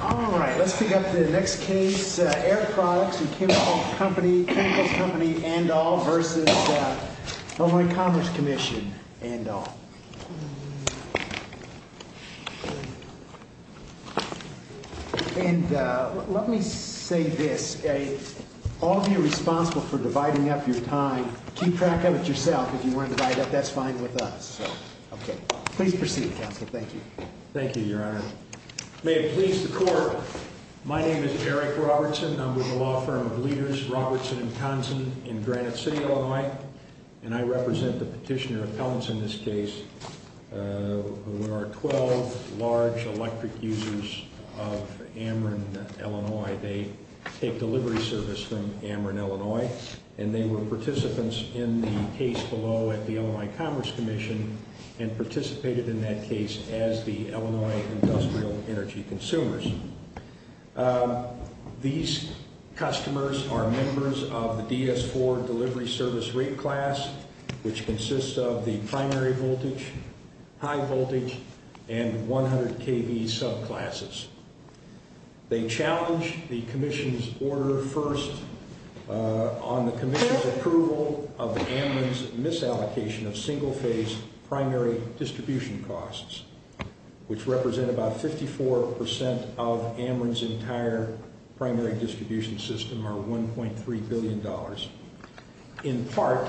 All right, let's pick up the next case, Air Products & Chemicals Co. v. ICC. And let me say this, all of you responsible for dividing up your time, keep track of it yourself. If you want to divide up, that's fine with us. Please proceed, Counselor. Thank you. Thank you, Your Honor. May it please the Court, my name is Eric Robertson. I'm with the law firm of Leaders, Robertson & Tonson in Granite City, Illinois. And I represent the petitioner appellants in this case, who are 12 large electric users of Amron, Illinois. That's why they take delivery service from Amron, Illinois. And they were participants in the case below at the Illinois Commerce Commission, and participated in that case as the Illinois Industrial Energy Consumers. These customers are members of the DS4 delivery service rate class, which consists of the primary voltage, high voltage, and 100 kV subclasses. They challenged the Commission's order first on the Commission's approval of Amron's misallocation of single-phase primary distribution costs, which represent about 54% of Amron's entire primary distribution system, or $1.3 billion, in part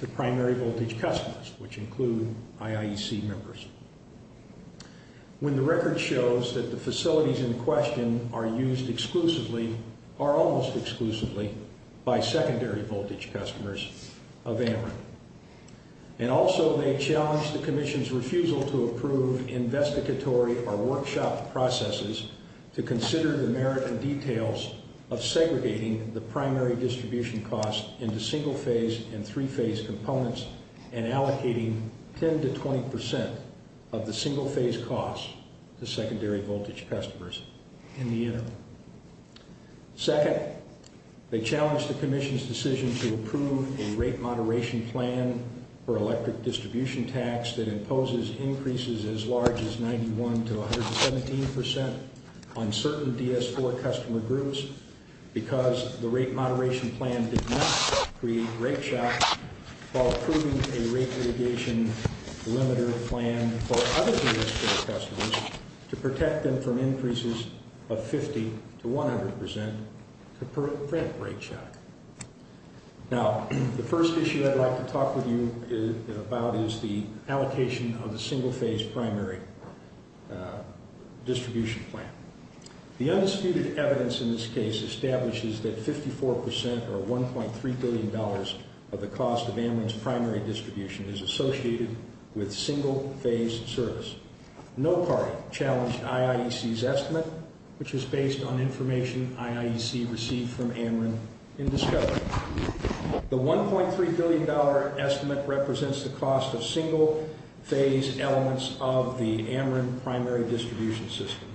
to primary voltage customers, which include IIEC members. When the record shows that the facilities in question are used exclusively, or almost exclusively, by secondary voltage customers of Amron. And also they challenged the Commission's refusal to approve investigatory or workshop processes to consider the merit and details of segregating the primary distribution costs into single-phase and three-phase components, and allocating 10 to 20% of the single-phase costs to secondary voltage customers in the interim. Second, they challenged the Commission's decision to approve a rate moderation plan for electric distribution tax that imposes increases as large as 91 to 117% on certain DS4 customer groups because the rate moderation plan did not create rate shock while approving a rate mitigation limiter plan for other DS4 customers to protect them from increases of 50 to 100% to prevent rate shock. Now, the first issue I'd like to talk with you about is the allocation of the single-phase primary distribution plan. The undisputed evidence in this case establishes that 54% or $1.3 billion of the cost of Amron's primary distribution is associated with single-phase service. No party challenged IIEC's estimate, which is based on information IIEC received from Amron in discovery. The $1.3 billion estimate represents the cost of single-phase elements of the Amron primary distribution system.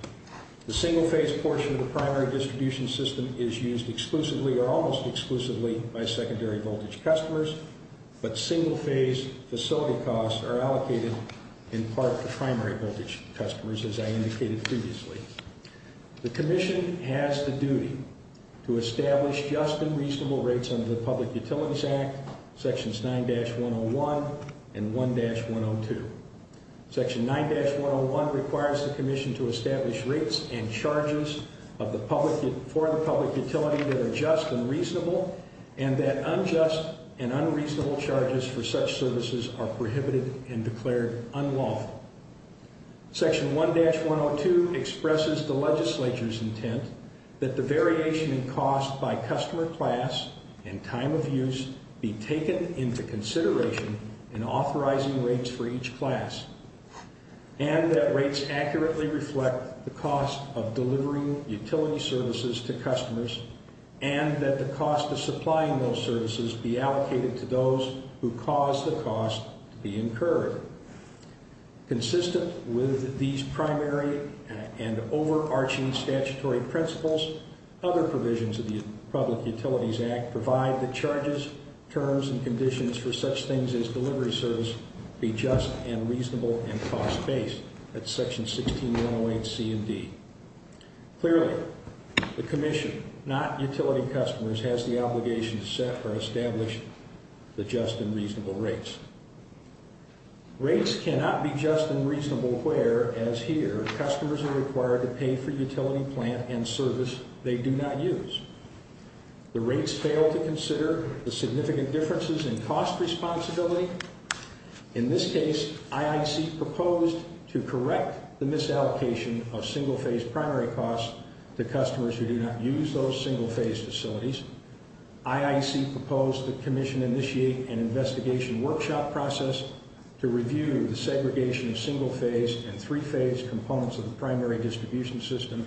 The single-phase portion of the primary distribution system is used exclusively or almost exclusively by secondary voltage customers, but single-phase facility costs are allocated in part to primary voltage customers, as I indicated previously. The Commission has the duty to establish just and reasonable rates under the Public Utilities Act, Sections 9-101 and 1-102. Section 9-101 requires the Commission to establish rates and charges for the public utility that are just and reasonable, and that unjust and unreasonable charges for such services are prohibited and declared unlawful. Section 1-102 expresses the Legislature's intent that the variation in cost by customer class and time of use be taken into consideration in authorizing rates for each class, and that rates accurately reflect the cost of delivering utility services to customers, and that the cost of supplying those services be allocated to those who cause the cost to be incurred. Consistent with these primary and overarching statutory principles, other provisions of the Public Utilities Act provide that charges, terms, and conditions for such things as delivery service be just and reasonable and cost-based. That's Section 16-108C and D. Clearly, the Commission, not utility customers, has the obligation to set or establish the just and reasonable rates. Rates cannot be just and reasonable where, as here, customers are required to pay for utility plant and service they do not use. The rates fail to consider the significant differences in cost responsibility. In this case, IIC proposed to correct the misallocation of single-phase primary costs to customers who do not use those single-phase facilities. IIC proposed the Commission initiate an investigation workshop process to review the segregation of single-phase and three-phase components of the primary distribution system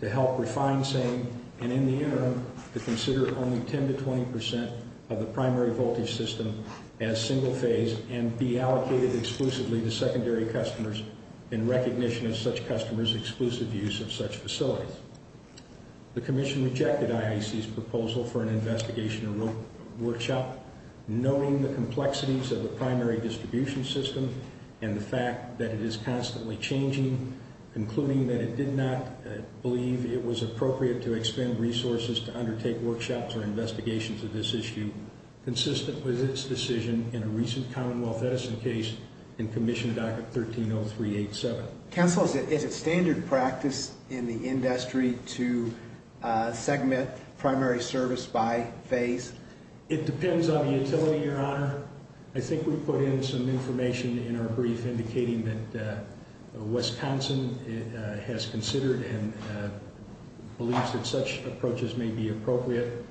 to help refine saying, and in the interim, to consider only 10 to 20 percent of the primary voltage system as single-phase and be allocated exclusively to secondary customers in recognition of such customers' exclusive use of such facilities. The Commission rejected IIC's proposal for an investigation workshop, knowing the complexities of the primary distribution system and the fact that it is constantly changing, concluding that it did not believe it was appropriate to expend resources to undertake workshops or investigations of this issue, consistent with its decision in a recent Commonwealth Edison case in Commission Docket 130387. Counsel, is it standard practice in the industry to segment primary service by phase? It depends on the utility, Your Honor. I think we put in some information in our brief indicating that Wisconsin has considered and believes that such approaches may be appropriate.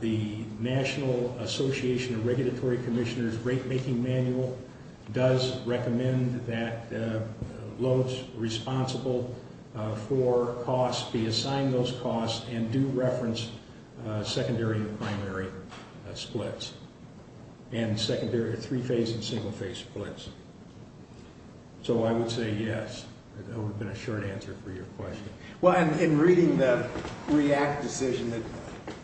The National Association of Regulatory Commissioners rate-making manual does recommend that loads responsible for costs be assigned those costs and do reference secondary and primary splits and secondary three-phase and single-phase splits. So I would say yes. That would have been a short answer for your question. Well, in reading the REACT decision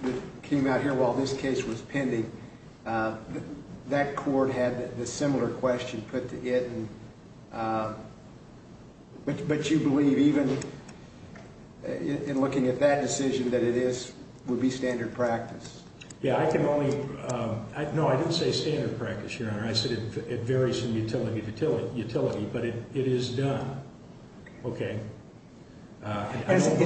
that came out here while this case was pending, that court had a similar question put to it, but you believe even in looking at that decision that it would be standard practice? Yeah, I can only – no, I didn't say standard practice, Your Honor. I said it varies from utility to utility, but it is done. Okay. I don't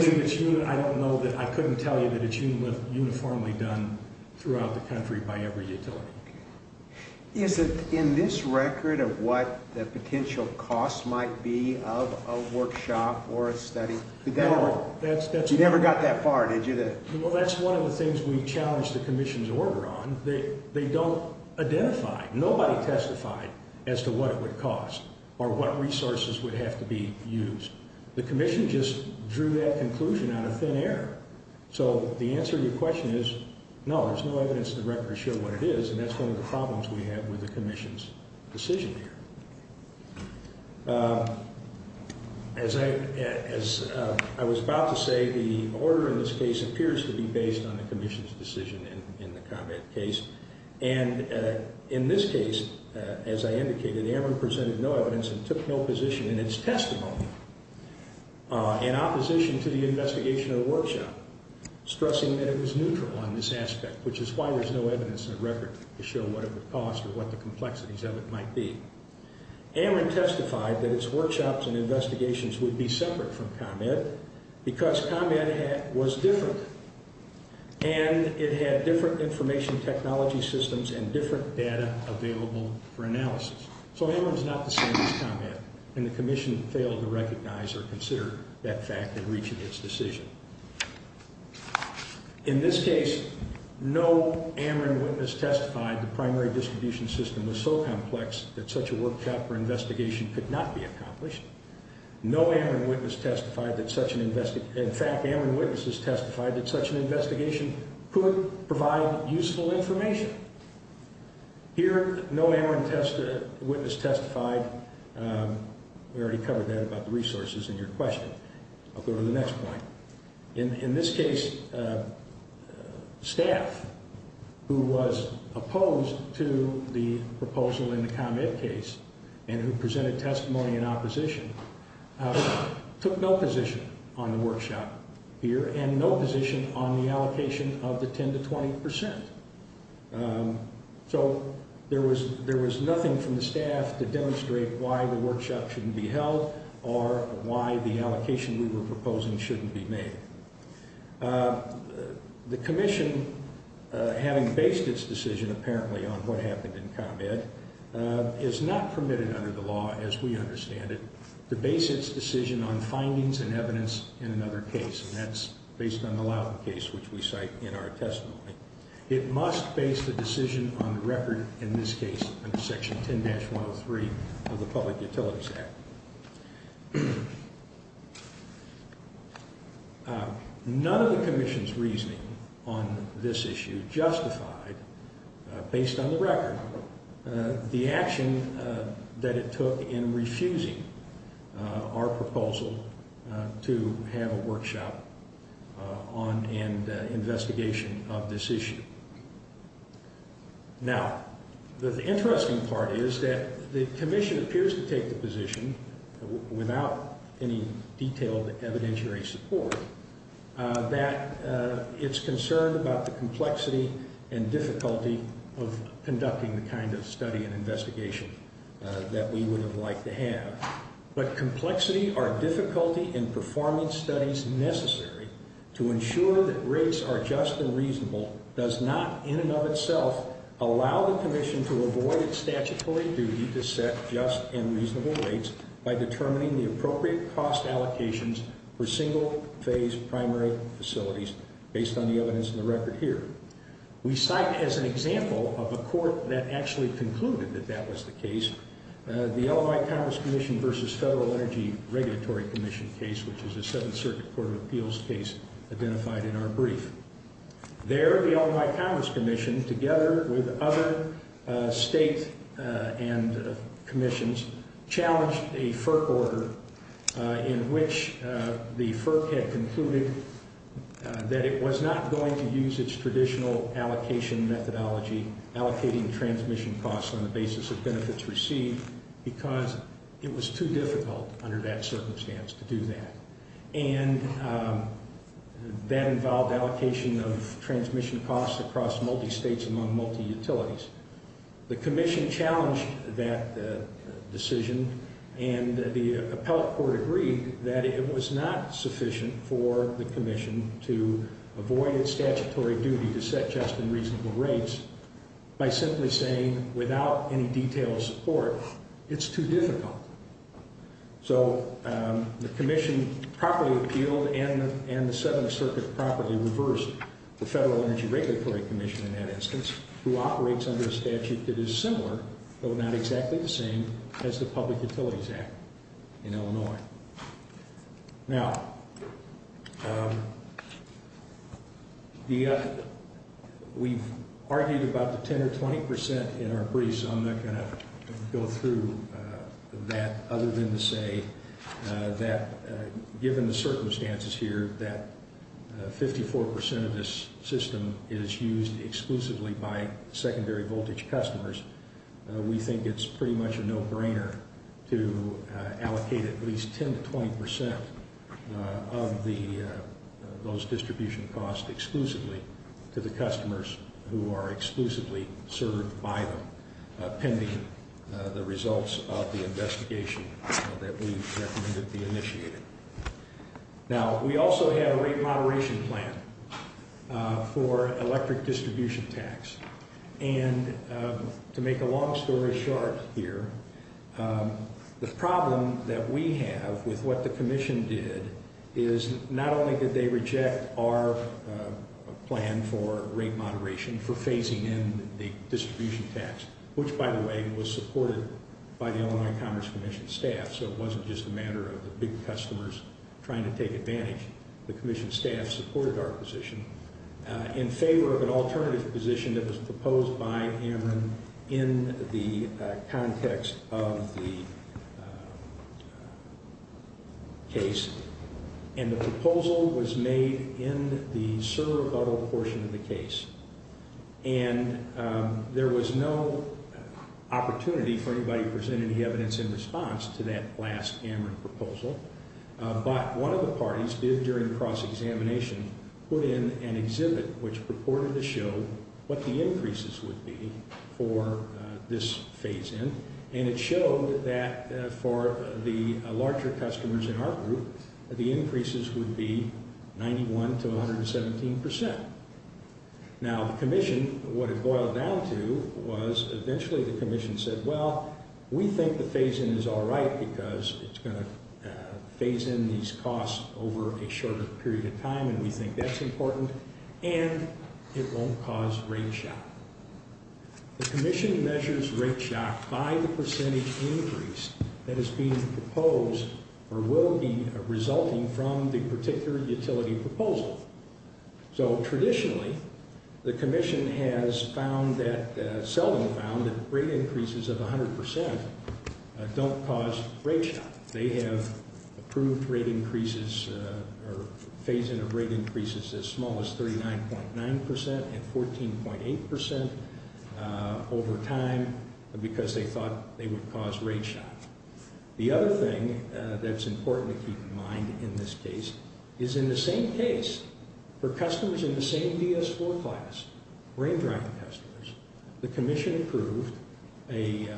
know that – I couldn't tell you that it's uniformly done throughout the country by every utility. Is it in this record of what the potential costs might be of a workshop or a study? No, that's – You never got that far, did you? Well, that's one of the things we challenged the Commission's order on. They don't identify – nobody testified as to what it would cost or what resources would have to be used. The Commission just drew that conclusion out of thin air. So the answer to your question is no, there's no evidence in the record to show what it is, and that's one of the problems we have with the Commission's decision here. As I was about to say, the order in this case appears to be based on the Commission's decision in the combat case, and in this case, as I indicated, AMR presented no evidence and took no position in its testimony in opposition to the investigation of the workshop, stressing that it was neutral on this aspect, which is why there's no evidence in the record to show what it would cost or what the complexities of it might be. AMR testified that its workshops and investigations would be separate from combat because combat was different, and it had different information technology systems and different data available for analysis. So AMR is not the same as combat, and the Commission failed to recognize or consider that fact in reaching its decision. In this case, no AMR witness testified the primary distribution system was so complex that such a workshop or investigation could not be accomplished. In fact, AMR witnesses testified that such an investigation could provide useful information. Here, no AMR witness testified. We already covered that about the resources in your question. I'll go to the next point. In this case, staff who was opposed to the proposal in the combat case and who presented testimony in opposition took no position on the workshop here and no position on the allocation of the 10 to 20 percent. So there was nothing from the staff to demonstrate why the workshop shouldn't be held or why the allocation we were proposing shouldn't be made. The Commission, having based its decision apparently on what happened in combat, is not permitted under the law, as we understand it, to base its decision on findings and evidence in another case, and that's based on the Loudon case, which we cite in our testimony. It must base the decision on the record, in this case, under Section 10-103 of the Public Utilities Act. None of the Commission's reasoning on this issue justified, based on the record, the action that it took in refusing our proposal to have a workshop on an investigation of this issue. Now, the interesting part is that the Commission appears to take the position, without any detailed evidentiary support, that it's concerned about the complexity and difficulty of conducting the kind of study and investigation that we would have liked to have, but complexity or difficulty in performing studies necessary to ensure that rates are just and reasonable does not, in and of itself, allow the Commission to avoid its statutory duty to set just and reasonable rates by determining the appropriate cost allocations for single-phase primary facilities, based on the evidence in the record here. We cite as an example of a court that actually concluded that that was the case the Illinois Commerce Commission versus Federal Energy Regulatory Commission case, which is a Seventh Circuit Court of Appeals case identified in our brief. There, the Illinois Commerce Commission, together with other states and commissions, challenged a FERC order in which the FERC had concluded that it was not going to use its traditional allocation methodology, allocating transmission costs on the basis of benefits received, because it was too difficult under that circumstance to do that. And that involved allocation of transmission costs across multi-states among multi-utilities. The Commission challenged that decision, and the appellate court agreed that it was not sufficient for the Commission to avoid its statutory duty to set just and reasonable rates by simply saying, without any detailed support, it's too difficult. So the Commission properly appealed and the Seventh Circuit properly reversed the Federal Energy Regulatory Commission in that instance, who operates under a statute that is similar, though not exactly the same, as the Public Utilities Act in Illinois. Now, we've argued about the 10% or 20% in our brief, so I'm not going to go through that other than to say that, given the circumstances here that 54% of this system is used exclusively by secondary voltage customers, we think it's pretty much a no-brainer to allocate at least 10% to 20% of those distribution costs exclusively to the customers who are exclusively served by them, pending the results of the investigation that we've recommended be initiated. Now, we also have a rate moderation plan for electric distribution tax, and to make a long story short here, the problem that we have with what the Commission did is not only did they reject our plan for rate moderation for phasing in the distribution tax, which, by the way, was supported by the Illinois Commerce Commission staff, so it wasn't just a matter of the big customers trying to take advantage. The Commission staff supported our position in favor of an alternative position that was proposed by Ameren in the context of the case, and the proposal was made in the servo-buttle portion of the case, and there was no opportunity for anybody to present any evidence in response to that last Ameren proposal, but one of the parties did, during cross-examination, put in an exhibit which purported to show what the increases would be for this phase-in, and it showed that for the larger customers in our group, the increases would be 91 to 117 percent. Now, the Commission, what it boiled down to was eventually the Commission said, well, we think the phase-in is all right because it's going to phase in these costs over a shorter period of time, and we think that's important, and it won't cause rate shock. The Commission measures rate shock by the percentage increase that is being proposed or will be resulting from the particular utility proposal. So traditionally, the Commission has found that, seldom found, that rate increases of 100 percent don't cause rate shock. They have approved rate increases or phase-in of rate increases as small as 39.9 percent and 14.8 percent over time because they thought they would cause rate shock. The other thing that's important to keep in mind in this case is in the same case, for customers in the same DS4 class, rain-drying customers, the Commission approved an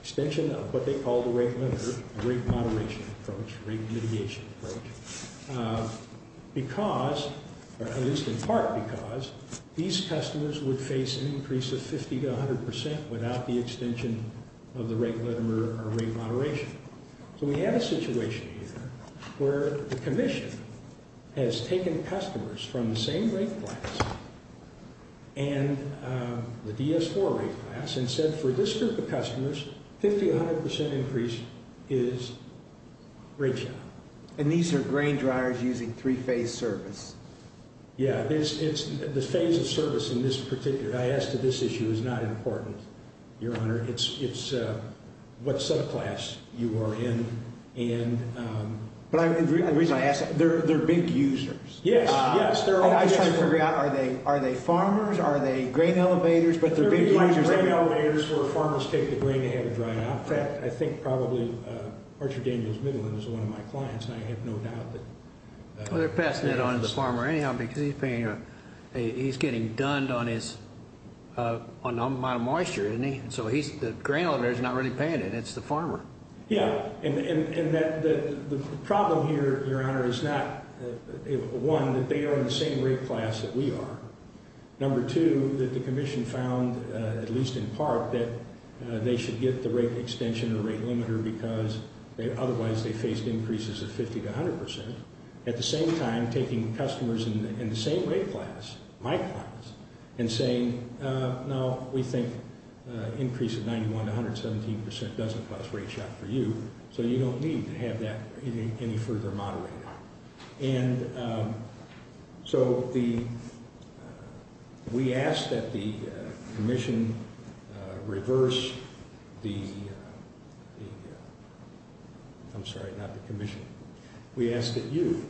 extension of what they call the rate limiter, rate moderation approach, rate mitigation approach, because, or at least in part because, these customers would face an increase of 50 to 100 percent without the extension of the rate limiter or rate moderation. So we have a situation here where the Commission has taken customers from the same rate class and the DS4 rate class and said, for this group of customers, 50 to 100 percent increase is rate shock. And these are grain dryers using three-phase service? Yeah, the phase of service in this particular, I asked if this issue is not important, Your Honor. It's what subclass you are in. But the reason I ask, they're big users. Yes, yes. I was trying to figure out, are they farmers, are they grain elevators, but they're big users. They're big grain elevators where farmers take the grain they have to dry off. I think probably Archer Daniels Middleton is one of my clients, and I have no doubt that. Well, they're passing that on to the farmer anyhow because he's getting done on the amount of moisture, isn't he? So the grain elevator is not really paying it, it's the farmer. Yeah, and the problem here, Your Honor, is not, one, that they are in the same rate class that we are. Number two, that the Commission found, at least in part, that they should get the rate extension or rate limiter because otherwise they faced increases of 50 to 100 percent. At the same time, taking customers in the same rate class, my class, and saying, no, we think an increase of 91 to 117 percent doesn't cause rate shock for you, so you don't need to have that any further moderated. And so we ask that the Commission reverse the, I'm sorry, not the Commission, we ask that you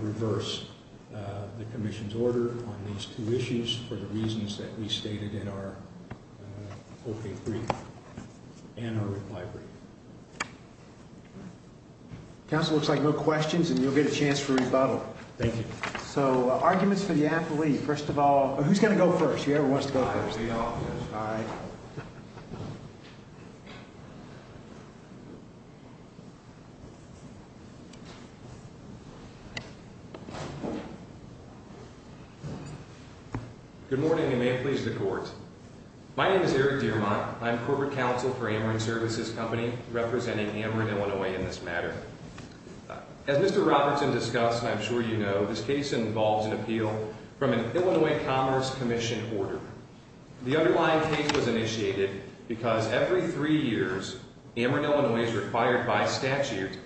reverse the Commission's order on these two issues for the reasons that we stated in our 4K3 and our reply brief. Counsel, it looks like no questions and you'll get a chance for rebuttal. Thank you. So arguments for the affilee, first of all, who's going to go first? The Chair wants to go first. All right. Good morning, and may it please the Court. My name is Eric Dermott. I'm Corporate Counsel for Ameren Services Company, representing Ameren, Illinois, in this matter. As Mr. Robertson discussed, and I'm sure you know, this case involves an appeal from an Illinois Commerce Commission order. The underlying case was initiated because every three years, Ameren, Illinois is required by statute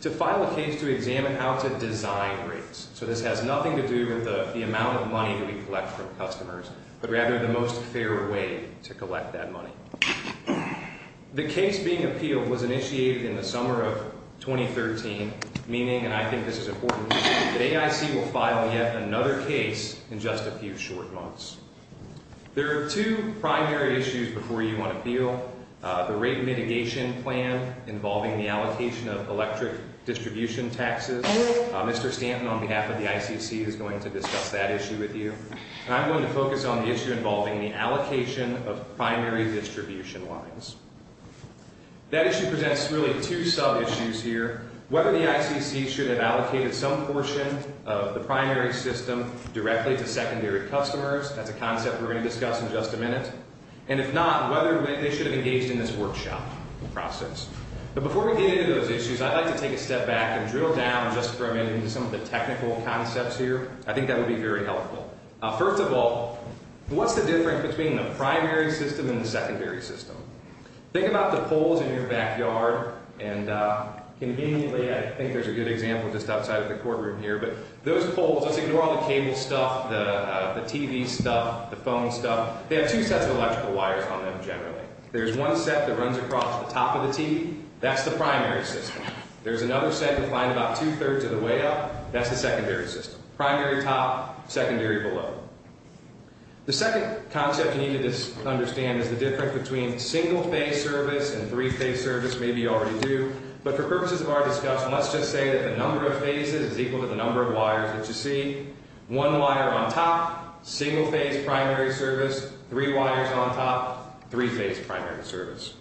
to file a case to examine how to design rates. So this has nothing to do with the amount of money that we collect from customers, but rather the most fair way to collect that money. The case being appealed was initiated in the summer of 2013, meaning, and I think this is important to note, that AIC will file yet another case in just a few short months. There are two primary issues before you on appeal, the rate mitigation plan involving the allocation of electric distribution taxes. Mr. Stanton, on behalf of the ICC, is going to discuss that issue with you. And I'm going to focus on the issue involving the allocation of primary distribution lines. That issue presents really two sub-issues here. Whether the ICC should have allocated some portion of the primary system directly to secondary customers, that's a concept we're going to discuss in just a minute. And if not, whether they should have engaged in this workshop process. But before we get into those issues, I'd like to take a step back and drill down just for a minute into some of the technical concepts here. I think that would be very helpful. First of all, what's the difference between the primary system and the secondary system? Think about the poles in your backyard. And conveniently, I think there's a good example just outside of the courtroom here, but those poles, let's ignore all the cable stuff, the TV stuff, the phone stuff. They have two sets of electrical wires on them generally. There's one set that runs across the top of the TV. That's the primary system. There's another set you'll find about two-thirds of the way up. That's the secondary system. Primary top, secondary below. The second concept you need to understand is the difference between single-phase service and three-phase service. Maybe you already do. But for purposes of our discussion, let's just say that the number of phases is equal to the number of wires that you see. One wire on top, single-phase primary service. Three wires on top, three-phase primary service.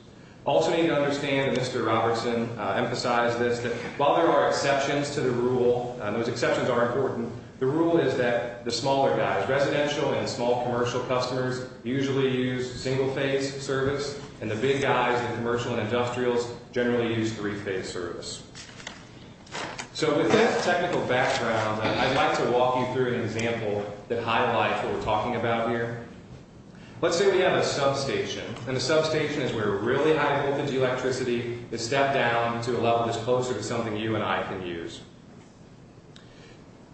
Also you need to understand, and Mr. Robertson emphasized this, that while there are exceptions to the rule, and those exceptions are important, the rule is that the smaller guys, residential and small commercial customers, usually use single-phase service, and the big guys, the commercial and industrials, generally use three-phase service. So with that technical background, I'd like to walk you through an example that highlights what we're talking about here. Let's say we have a substation, and the substation is where really high voltage electricity is stepped down to a level that's closer to something you and I can use.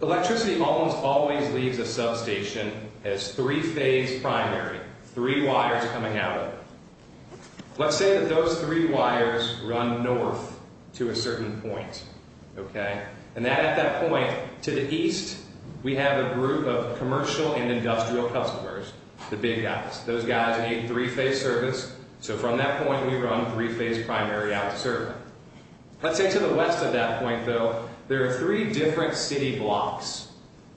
Electricity almost always leaves a substation as three-phase primary, three wires coming out of it. Let's say that those three wires run north to a certain point, okay? And at that point, to the east, we have a group of commercial and industrial customers, the big guys. Those guys need three-phase service, so from that point, we run three-phase primary out to server. Let's say to the west of that point, though, there are three different city blocks.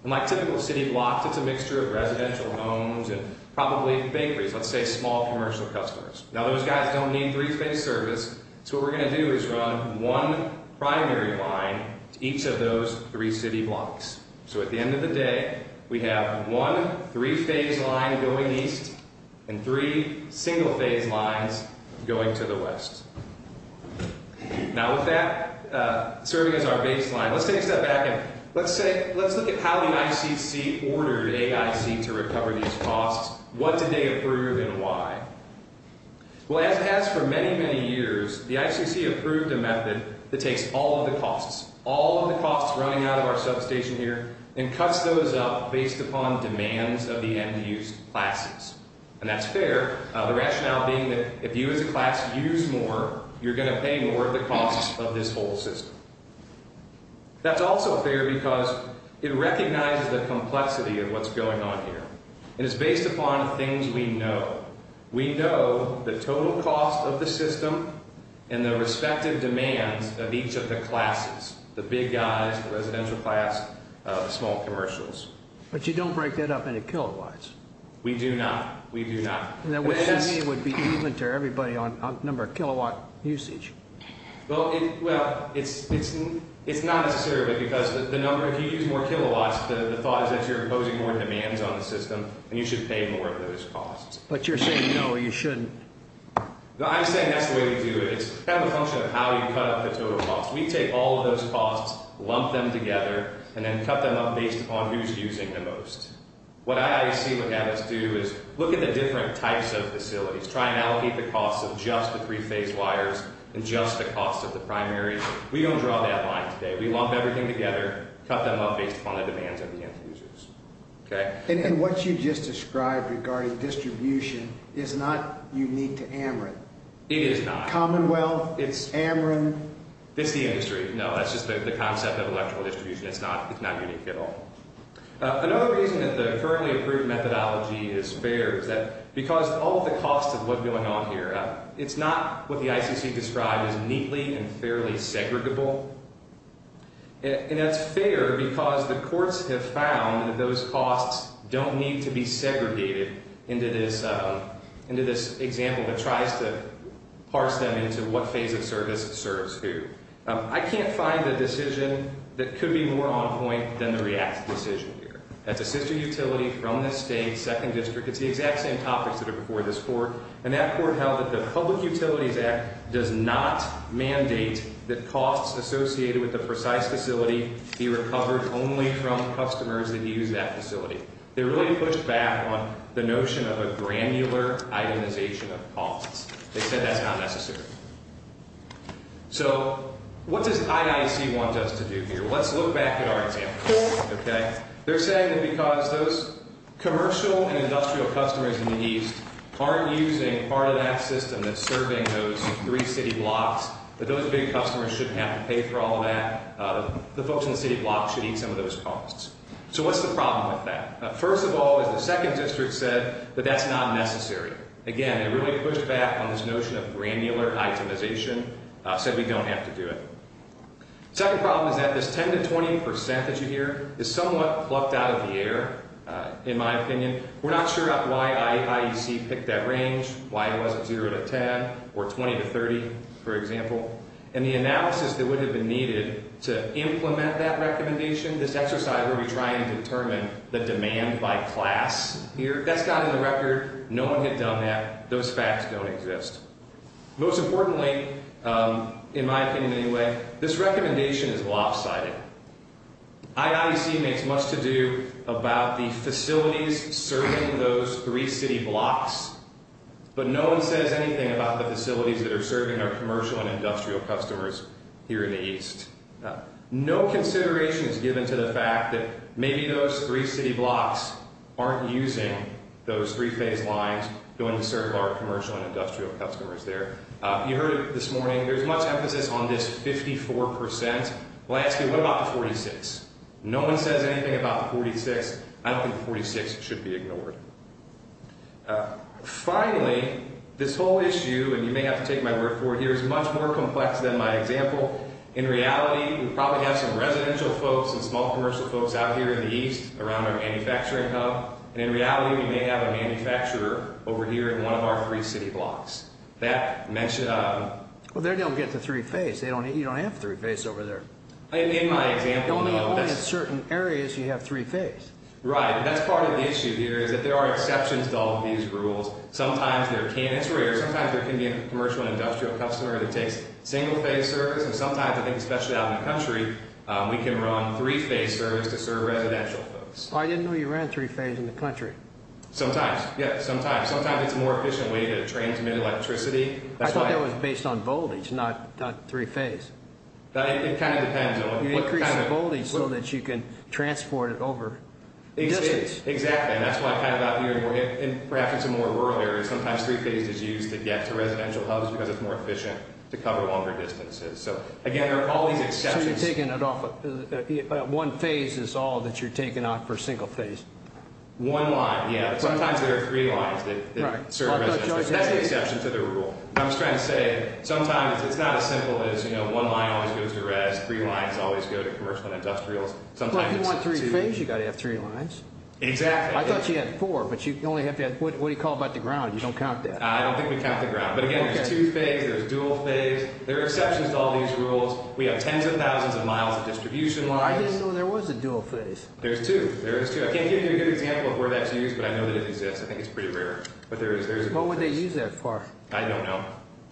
And like typical city blocks, it's a mixture of residential homes and probably bakeries, let's say, small commercial customers. Now, those guys don't need three-phase service, so what we're going to do is run one primary line to each of those three city blocks. So at the end of the day, we have one three-phase line going east and three single-phase lines going to the west. Now, with that serving as our baseline, let's take a step back and let's look at how the ICC ordered AIC to recover these costs. What did they approve and why? Well, as it has for many, many years, the ICC approved a method that takes all of the costs, all of the costs running out of our substation here, and cuts those up based upon demands of the end-use classes. And that's fair, the rationale being that if you as a class use more, you're going to pay more of the costs of this whole system. That's also fair because it recognizes the complexity of what's going on here. And it's based upon things we know. We know the total cost of the system and the respective demands of each of the classes, the big guys, the residential class, the small commercials. But you don't break that up into kilowatts. We do not. We do not. And that would, to me, would be even to everybody on the number of kilowatt usage. Well, it's not necessarily because of the number. If you use more kilowatts, the thought is that you're imposing more demands on the system, and you should pay more of those costs. But you're saying no, you shouldn't. I'm saying that's the way to do it. It's kind of a function of how you cut up the total cost. We take all of those costs, lump them together, and then cut them up based upon who's using the most. What I see what happens, too, is look at the different types of facilities. Try and allocate the costs of just the three-phase wires and just the cost of the primary. We don't draw that line today. We lump everything together, cut them up based upon the demands of the end users. And what you just described regarding distribution is not unique to Ameren. It is not. Commonwealth, Ameren. It's the industry. No, that's just the concept of electrical distribution. It's not unique at all. Another reason that the currently approved methodology is fair is that because all of the costs of what's going on here, it's not what the ICC described as neatly and fairly segregable. And that's fair because the courts have found that those costs don't need to be segregated into this example that tries to parse them into what phase of service serves who. I can't find a decision that could be more on point than the REACT decision here. That's a sister utility from the state, second district. It's the exact same topics that are before this court. And that court held that the Public Utilities Act does not mandate that costs associated with the precise facility be recovered only from customers that use that facility. They really pushed back on the notion of a granular itemization of costs. They said that's not necessary. So what does IIC want us to do here? Let's look back at our examples. They're saying that because those commercial and industrial customers in the east aren't using part of that system that's serving those three city blocks, that those big customers shouldn't have to pay for all of that. The folks in the city blocks should eat some of those costs. So what's the problem with that? First of all, as the second district said, that that's not necessary. Again, they really pushed back on this notion of granular itemization, said we don't have to do it. Second problem is that this 10% to 20% that you hear is somewhat plucked out of the air, in my opinion. We're not sure why IEC picked that range, why it wasn't 0% to 10% or 20% to 30%, for example. And the analysis that would have been needed to implement that recommendation, this exercise where we try and determine the demand by class here, that's not in the record. No one had done that. Those facts don't exist. Most importantly, in my opinion anyway, this recommendation is lopsided. IIEC makes much to do about the facilities serving those three city blocks, but no one says anything about the facilities that are serving our commercial and industrial customers here in the east. No consideration is given to the fact that maybe those three city blocks aren't using those three phase lines going to serve our commercial and industrial customers there. You heard it this morning, there's much emphasis on this 54%. Lastly, what about the 46? No one says anything about the 46. I don't think the 46 should be ignored. Finally, this whole issue, and you may have to take my word for it here, is much more complex than my example. In reality, we probably have some residential folks and small commercial folks out here in the east around our manufacturing hub. And in reality, we may have a manufacturer over here in one of our three city blocks. Well, they don't get the three phase. You don't have three phase over there. In my example, no. Only in certain areas you have three phase. Right. That's part of the issue here is that there are exceptions to all of these rules. Sometimes there can be a commercial and industrial customer that takes single phase service. And sometimes, I think especially out in the country, we can run three phase service to serve residential folks. I didn't know you ran three phase in the country. Sometimes. Yeah, sometimes. Sometimes it's a more efficient way to transmit electricity. I thought that was based on voltage, not three phase. It kind of depends. You increase the voltage so that you can transport it over. Exactly. Exactly, and that's what I kind of got here. And perhaps it's a more rural area. Sometimes three phase is used to get to residential hubs because it's more efficient to cover longer distances. So, again, there are all these exceptions. So you're taking it off. One phase is all that you're taking off for single phase. One line, yeah. Sometimes there are three lines that serve residential. That's the exception to the rule. I'm just trying to say sometimes it's not as simple as, you know, one line always goes to res, three lines always go to commercial and industrials. But if you want three phase, you've got to have three lines. Exactly. I thought you had four, but you only have to have, what do you call it about the ground? You don't count that. I don't think we count the ground. But, again, there's two phase, there's dual phase. There are exceptions to all these rules. We have tens of thousands of miles of distribution lines. I didn't know there was a dual phase. There's two. There is two. I can't give you a good example of where that's used, but I know that it exists. I think it's pretty rare. But there is a dual phase. What would they use that for? I don't know.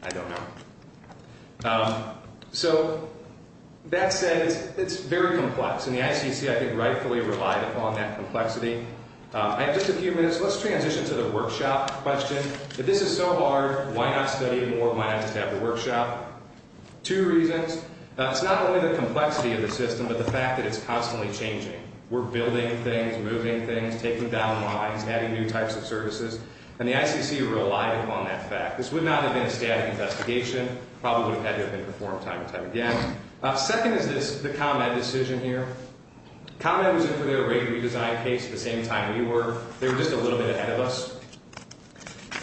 I don't know. So that said, it's very complex. And the ICC, I think, rightfully relied upon that complexity. I have just a few minutes. Let's transition to the workshop question. If this is so hard, why not study it more? Why not just have the workshop? Two reasons. It's not only the complexity of the system, but the fact that it's constantly changing. We're building things, moving things, taking down lines, adding new types of services. And the ICC relied upon that fact. This would not have been a static investigation. It probably would have had to have been performed time and time again. Second is this, the ComEd decision here. ComEd was in for their rate redesign case the same time we were. They were just a little bit ahead of us.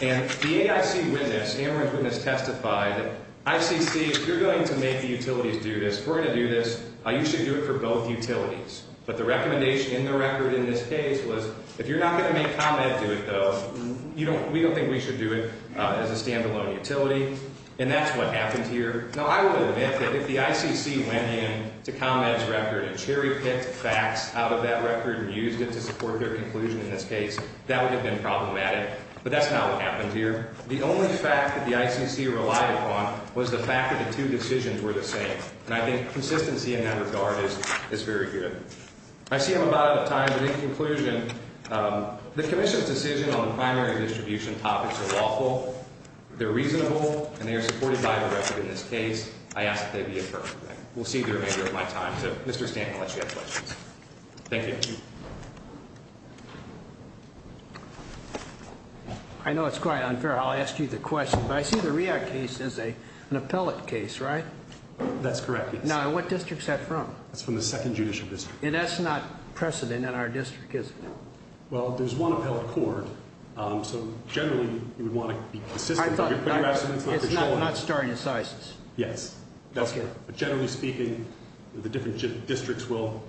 And the AIC witness, Amarant's witness, testified that ICC, if you're going to make the utilities do this, if we're going to do this, you should do it for both utilities. But the recommendation in the record in this case was if you're not going to make ComEd do it, though, we don't think we should do it as a stand-alone utility, and that's what happened here. Now, I will admit that if the ICC went in to ComEd's record and cherry-picked facts out of that record and used it to support their conclusion in this case, that would have been problematic. But that's not what happened here. The only fact that the ICC relied upon was the fact that the two decisions were the same. And I think consistency in that regard is very good. I see I'm about out of time, but in conclusion, the commission's decision on the primary distribution topics are lawful, they're reasonable, and they are supported by the record in this case. I ask that they be affirmed. We'll see the remainder of my time. So, Mr. Stanton, unless you have questions. Thank you. I know it's quite unfair. I'll ask you the question. But I see the REACT case as an appellate case, right? That's correct, yes. Now, and what district's that from? That's from the Second Judicial District. And that's not precedent in our district, is it? Well, there's one appellate court. So, generally, you would want to be consistent. I thought it's not starting in CISIS. Yes. That's correct. But generally speaking, the different districts will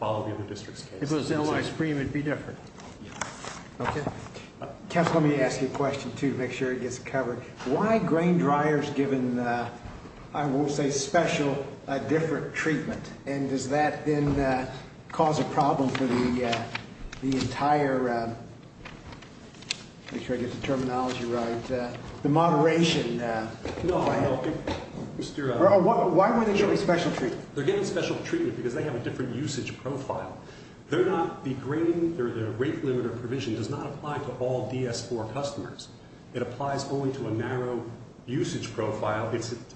follow the other districts' case. If it was L.I. Supreme, it would be different. Yes. Okay. Counsel, let me ask you a question, too, to make sure it gets covered. Why are grain dryers given, I won't say special, a different treatment? And does that, then, cause a problem for the entire, make sure I get the terminology right, the moderation? No, no. Why were they given special treatment? They're given special treatment because they have a different usage profile. They're not, the grain, the rate limit or provision does not apply to all DS-4 customers. It applies only to a narrow usage profile.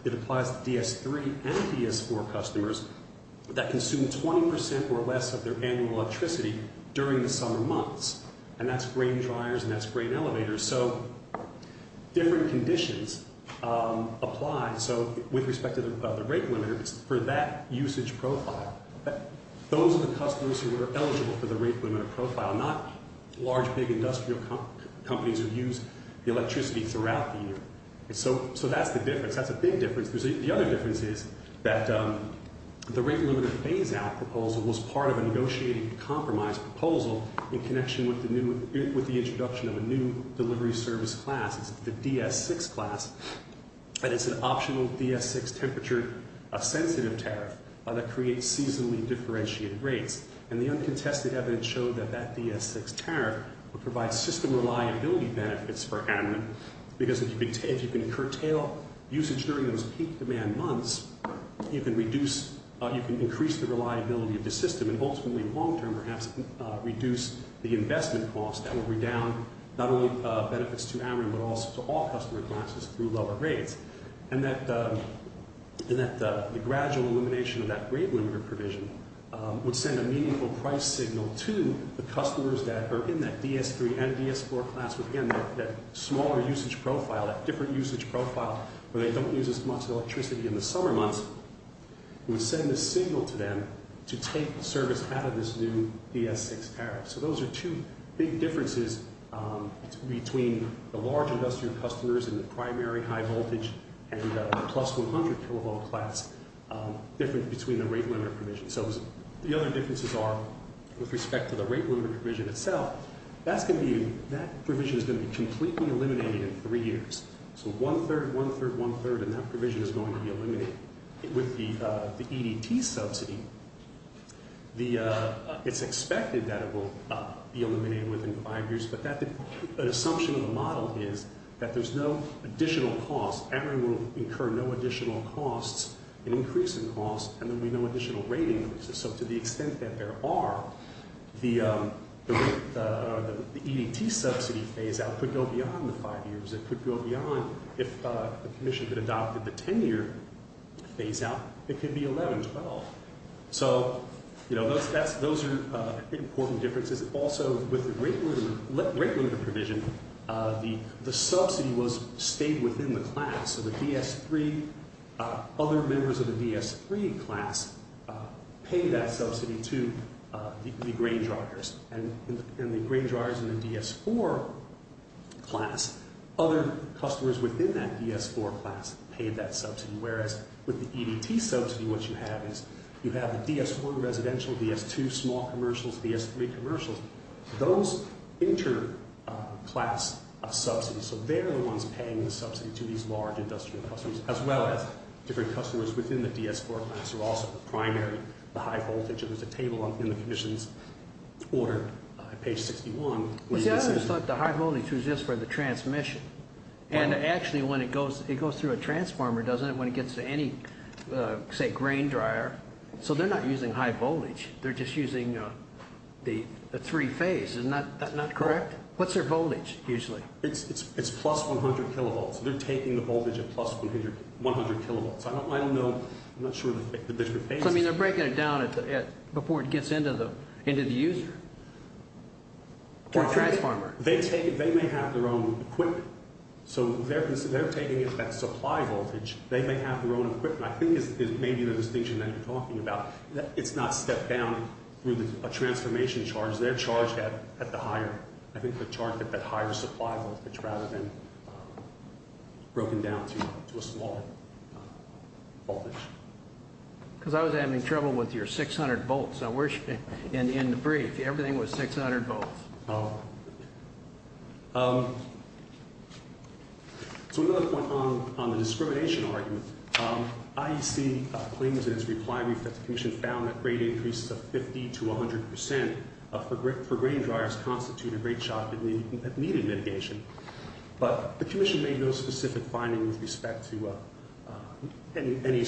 It applies to DS-3 and DS-4 customers that consume 20% or less of their annual electricity during the summer months. And that's grain dryers and that's grain elevators. So, different conditions apply. So, with respect to the rate limit, it's for that usage profile. Those are the customers who are eligible for the rate limit or profile, not large, big industrial companies who use the electricity throughout the year. So, that's the difference. That's a big difference. The other difference is that the rate limit phase-out proposal was part of a negotiating compromise proposal in connection with the introduction of a new delivery service class, the DS-6 class. And it's an optional DS-6 temperature sensitive tariff that creates seasonally differentiated rates. And the uncontested evidence showed that that DS-6 tariff would provide system reliability benefits for admin because if you can curtail usage during those peak demand months, you can increase the reliability of the system and ultimately, long-term, perhaps, reduce the investment cost. That would redound not only benefits to admin but also to all customer classes through lower rates. And that the gradual elimination of that rate limit provision would send a meaningful price signal to the customers that are in that DS-3 and DS-4 class with, again, that smaller usage profile, that different usage profile where they don't use as much electricity in the summer months. It would send a signal to them to take service out of this new DS-6 tariff. So, those are two big differences between the large industrial customers in the primary high voltage and the plus 100 kilovolt class different between the rate limit provision. So, the other differences are with respect to the rate limit provision itself, that provision is going to be completely eliminated in three years. So, one-third, one-third, one-third and that provision is going to be eliminated. With the EDT subsidy, it's expected that it will be eliminated within five years but an assumption of the model is that there's no additional cost. And it will incur no additional costs, an increase in costs, and there will be no additional rate increases. So, to the extent that there are, the EDT subsidy phase-out could go beyond the five years. It could go beyond if the commission had adopted the ten-year phase-out. It could be 11, 12. So, you know, those are important differences. Also, with the rate limit provision, the subsidy was, stayed within the class. So, the DS-3, other members of the DS-3 class paid that subsidy to the grain dryers. And the grain dryers in the DS-4 class, other customers within that DS-4 class paid that subsidy. Whereas, with the EDT subsidy, what you have is, you have the DS-4 residential, DS-2 small commercials, DS-3 commercials. Those inter-class subsidies, so they're the ones paying the subsidy to these large industrial customers as well as different customers within the DS-4 class are also the primary, the high-voltage. There's a table in the commission's order, page 61. The high-voltage is just for the transmission. And actually, when it goes through a transformer, doesn't it, when it gets to any, say, grain dryer, so they're not using high-voltage. They're just using a three-phase. Is that not correct? What's their voltage, usually? It's plus 100 kilovolts. They're taking the voltage at plus 100 kilovolts. I don't know. I'm not sure that there's a phase. So, I mean, they're breaking it down before it gets into the user or transformer. They may have their own equipment. So, they're taking it at supply voltage. They may have their own equipment. I think it may be the distinction that you're talking about. It's not stepped down through a transformation charge. They're charged at the higher, I think, the charge at that higher supply voltage rather than broken down to a small voltage. Because I was having trouble with your 600 volts. In the brief, everything was 600 volts. Oh. So, another point on the discrimination argument, IEC claims in its reply brief that the commission found that rate increases of 50% to 100% for grain dryers constitute a rate shock that needed mitigation. But the commission made no specific finding with respect to any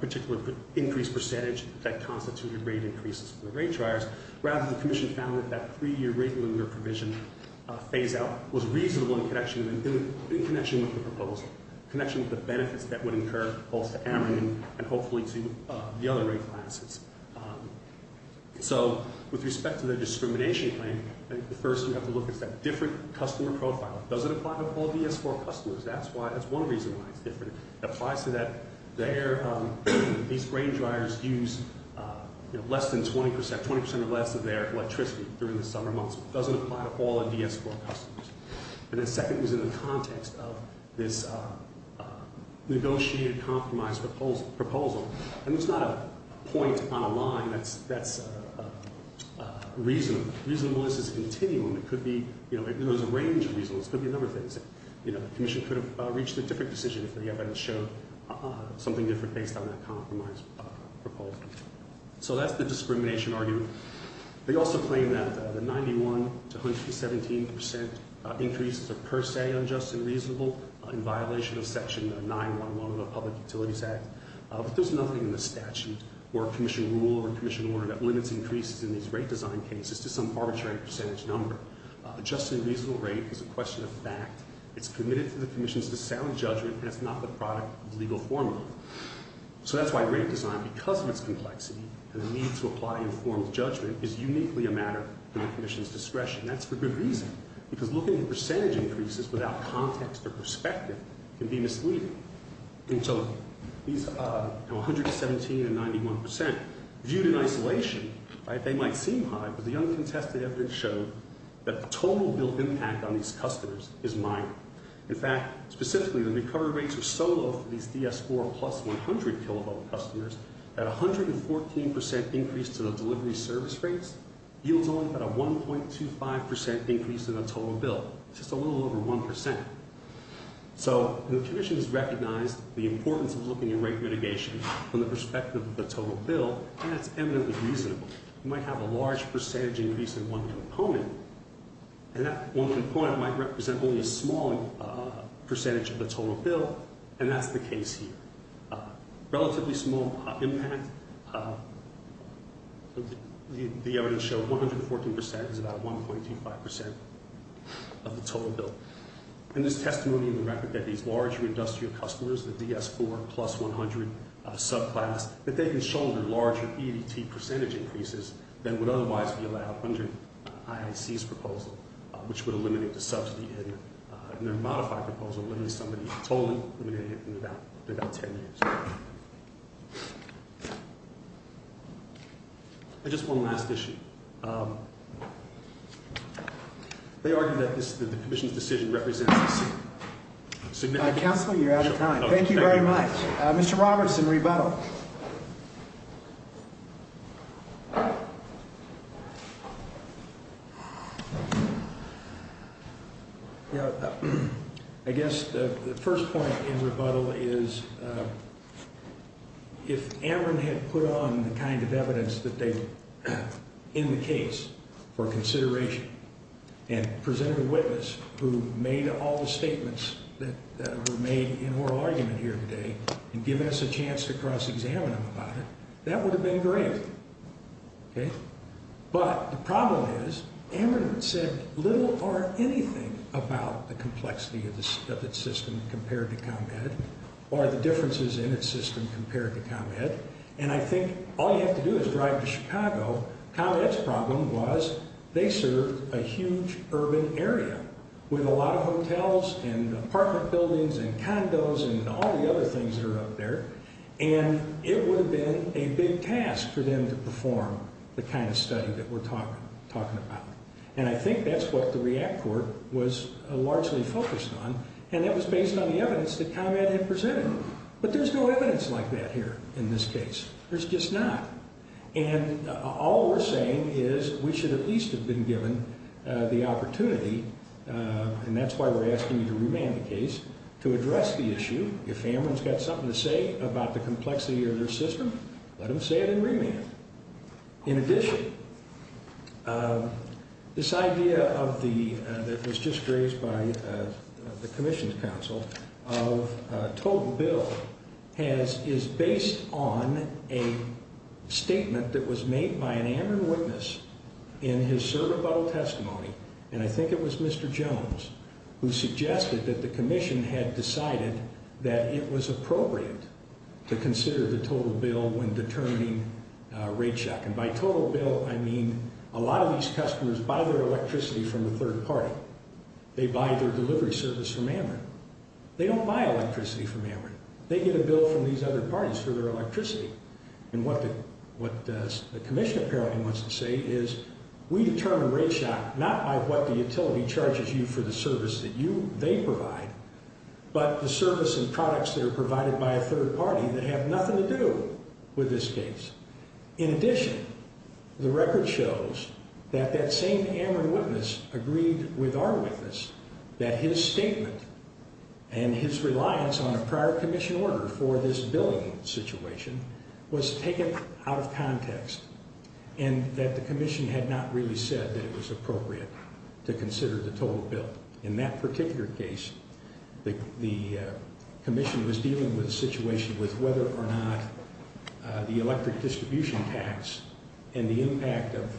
particular increased percentage that constituted rate increases for the grain dryers. Rather, the commission found that that three-year rate limiter provision phase-out was reasonable in connection with the proposal, connection with the benefits that would incur both to American and hopefully to the other rate appliances. So, with respect to the discrimination claim, first you have to look at that different customer profile. Does it apply to all DS4 customers? That's one reason why it's different. It applies to that. These grain dryers use less than 20%, 20% or less, of their electricity during the summer months. It doesn't apply to all DS4 customers. And the second is in the context of this negotiated compromise proposal. And it's not a point on a line that's reasonable. It's a continuum. It could be, you know, there's a range of reasons. It could be a number of things. You know, the commission could have reached a different decision if they hadn't showed something different based on that compromise proposal. So that's the discrimination argument. They also claim that the 91% to 117% increases are per se unjust and reasonable in violation of Section 9-1-1 of the Public Utilities Act. But there's nothing in the statute or commission rule or commission order that limits increases in these rate design cases to some arbitrary percentage number. Just and reasonable rate is a question of fact. It's committed to the commission's sound judgment, and it's not the product of legal formula. So that's why rate design, because of its complexity and the need to apply informed judgment, is uniquely a matter in the commission's discretion. That's for good reason, because looking at percentage increases without context or perspective can be misleading. And so these 117 and 91% viewed in isolation, they might seem high, but the uncontested evidence showed that the total bill impact on these customers is minor. In fact, specifically, the recovery rates are so low for these DS4 plus 100 kilovolt customers that a 114% increase to the delivery service rates yields only about a 1.25% increase in the total bill. It's just a little over 1%. So the commission has recognized the importance of looking at rate mitigation from the perspective of the total bill, and it's eminently reasonable. You might have a large percentage increase in one component, and that one component might represent only a small percentage of the total bill, and that's the case here. Relatively small impact. The evidence showed 114% is about 1.25% of the total bill. And there's testimony in the record that these larger industrial customers, the DS4 plus 100 subclass, that they can shoulder larger EDT percentage increases than would otherwise be allowed under IAC's proposal, which would eliminate the subsidy in their modified proposal, limiting somebody's total limit in about 10 years. Just one last issue. They argue that the commission's decision represents a significant- Counsel, you're out of time. Thank you very much. Mr. Roberts in rebuttal. I guess the first point in rebuttal is if Amron had put on the kind of evidence that they, in the case, for consideration and presented a witness who made all the statements that were made in oral argument here today and given us a chance to cross-examine them about it, that would have been great. But the problem is Amron said little or anything about the complexity of its system compared to ComEd or the differences in its system compared to ComEd, and I think all you have to do is drive to Chicago. ComEd's problem was they served a huge urban area with a lot of hotels and apartment buildings and condos and all the other things that are up there, and it would have been a big task for them to perform the kind of study that we're talking about. And I think that's what the REACT Court was largely focused on, and that was based on the evidence that ComEd had presented. But there's no evidence like that here in this case. There's just not. And all we're saying is we should at least have been given the opportunity, and that's why we're asking you to remand the case, to address the issue. If Amron's got something to say about the complexity of their system, let him say it in remand. In addition, this idea that was just raised by the Commission's counsel of total bill is based on a statement that was made by an Amron witness in his certificate of testimony, and I think it was Mr. Jones who suggested that the Commission had decided that it was appropriate to consider the total bill when determining rate shock. And by total bill, I mean a lot of these customers buy their electricity from the third party. They buy their delivery service from Amron. They don't buy electricity from Amron. They get a bill from these other parties for their electricity. And what the Commission apparently wants to say is we determine rate shock not by what the utility charges you for the service that they provide, but the service and products that are provided by a third party that have nothing to do with this case. In addition, the record shows that that same Amron witness agreed with our witness that his statement and his reliance on a prior Commission order for this billing situation was taken out of context and that the Commission had not really said that it was appropriate to consider the total bill. In that particular case, the Commission was dealing with a situation with whether or not the electric distribution tax and the impact of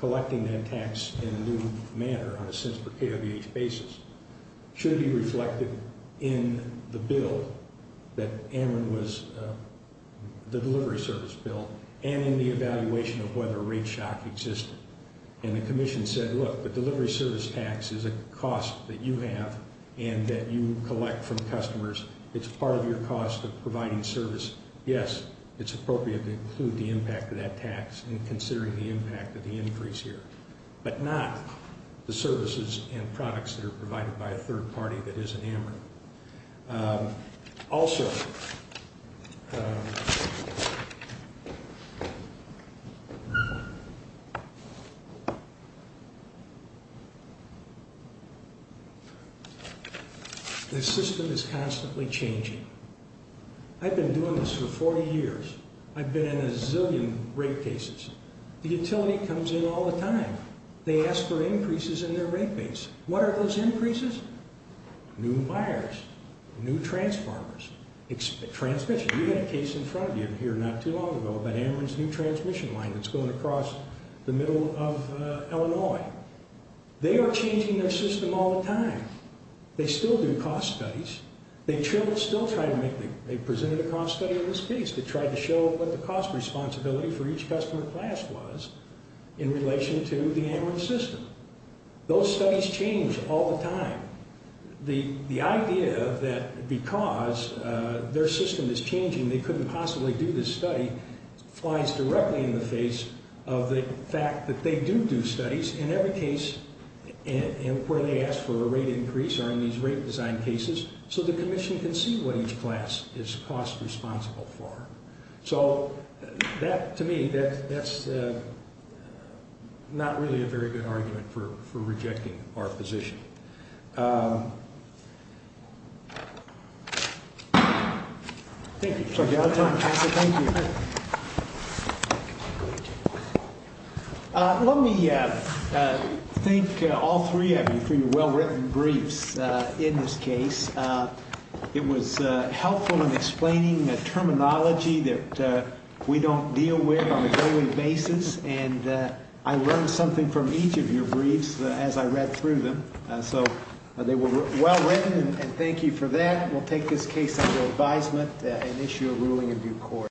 collecting that tax in a new manner on a cents per kWh basis should be reflected in the bill that Amron was, the delivery service bill, and in the evaluation of whether rate shock existed. And the Commission said, look, the delivery service tax is a cost that you have and that you collect from customers. It's part of your cost of providing service. Yes, it's appropriate to include the impact of that tax in considering the impact of the increase here, but not the services and products that are provided by a third party that isn't Amron. Also, the system is constantly changing. I've been doing this for 40 years. I've been in a zillion rate cases. The utility comes in all the time. They ask for increases in their rate base. What are those increases? New buyers, new transformers, transmission. We had a case in front of you here not too long ago about Amron's new transmission line that's going across the middle of Illinois. They are changing their system all the time. They still do cost studies. They presented a cost study of this piece that tried to show what the cost responsibility for each customer class was in relation to the Amron system. Those studies change all the time. The idea that because their system is changing they couldn't possibly do this study flies directly in the face of the fact that they do do studies in every case where they ask for a rate increase or in these rate design cases so the commission can see what each class is cost responsible for. To me, that's not really a very good argument for rejecting our position. Let me thank all three of you for your well-written briefs in this case. It was helpful in explaining terminology that we don't deal with on a daily basis and I learned something from each of your briefs as I read through them. They were well-written and thank you for that. We'll take this case under advisement and issue a ruling in due course.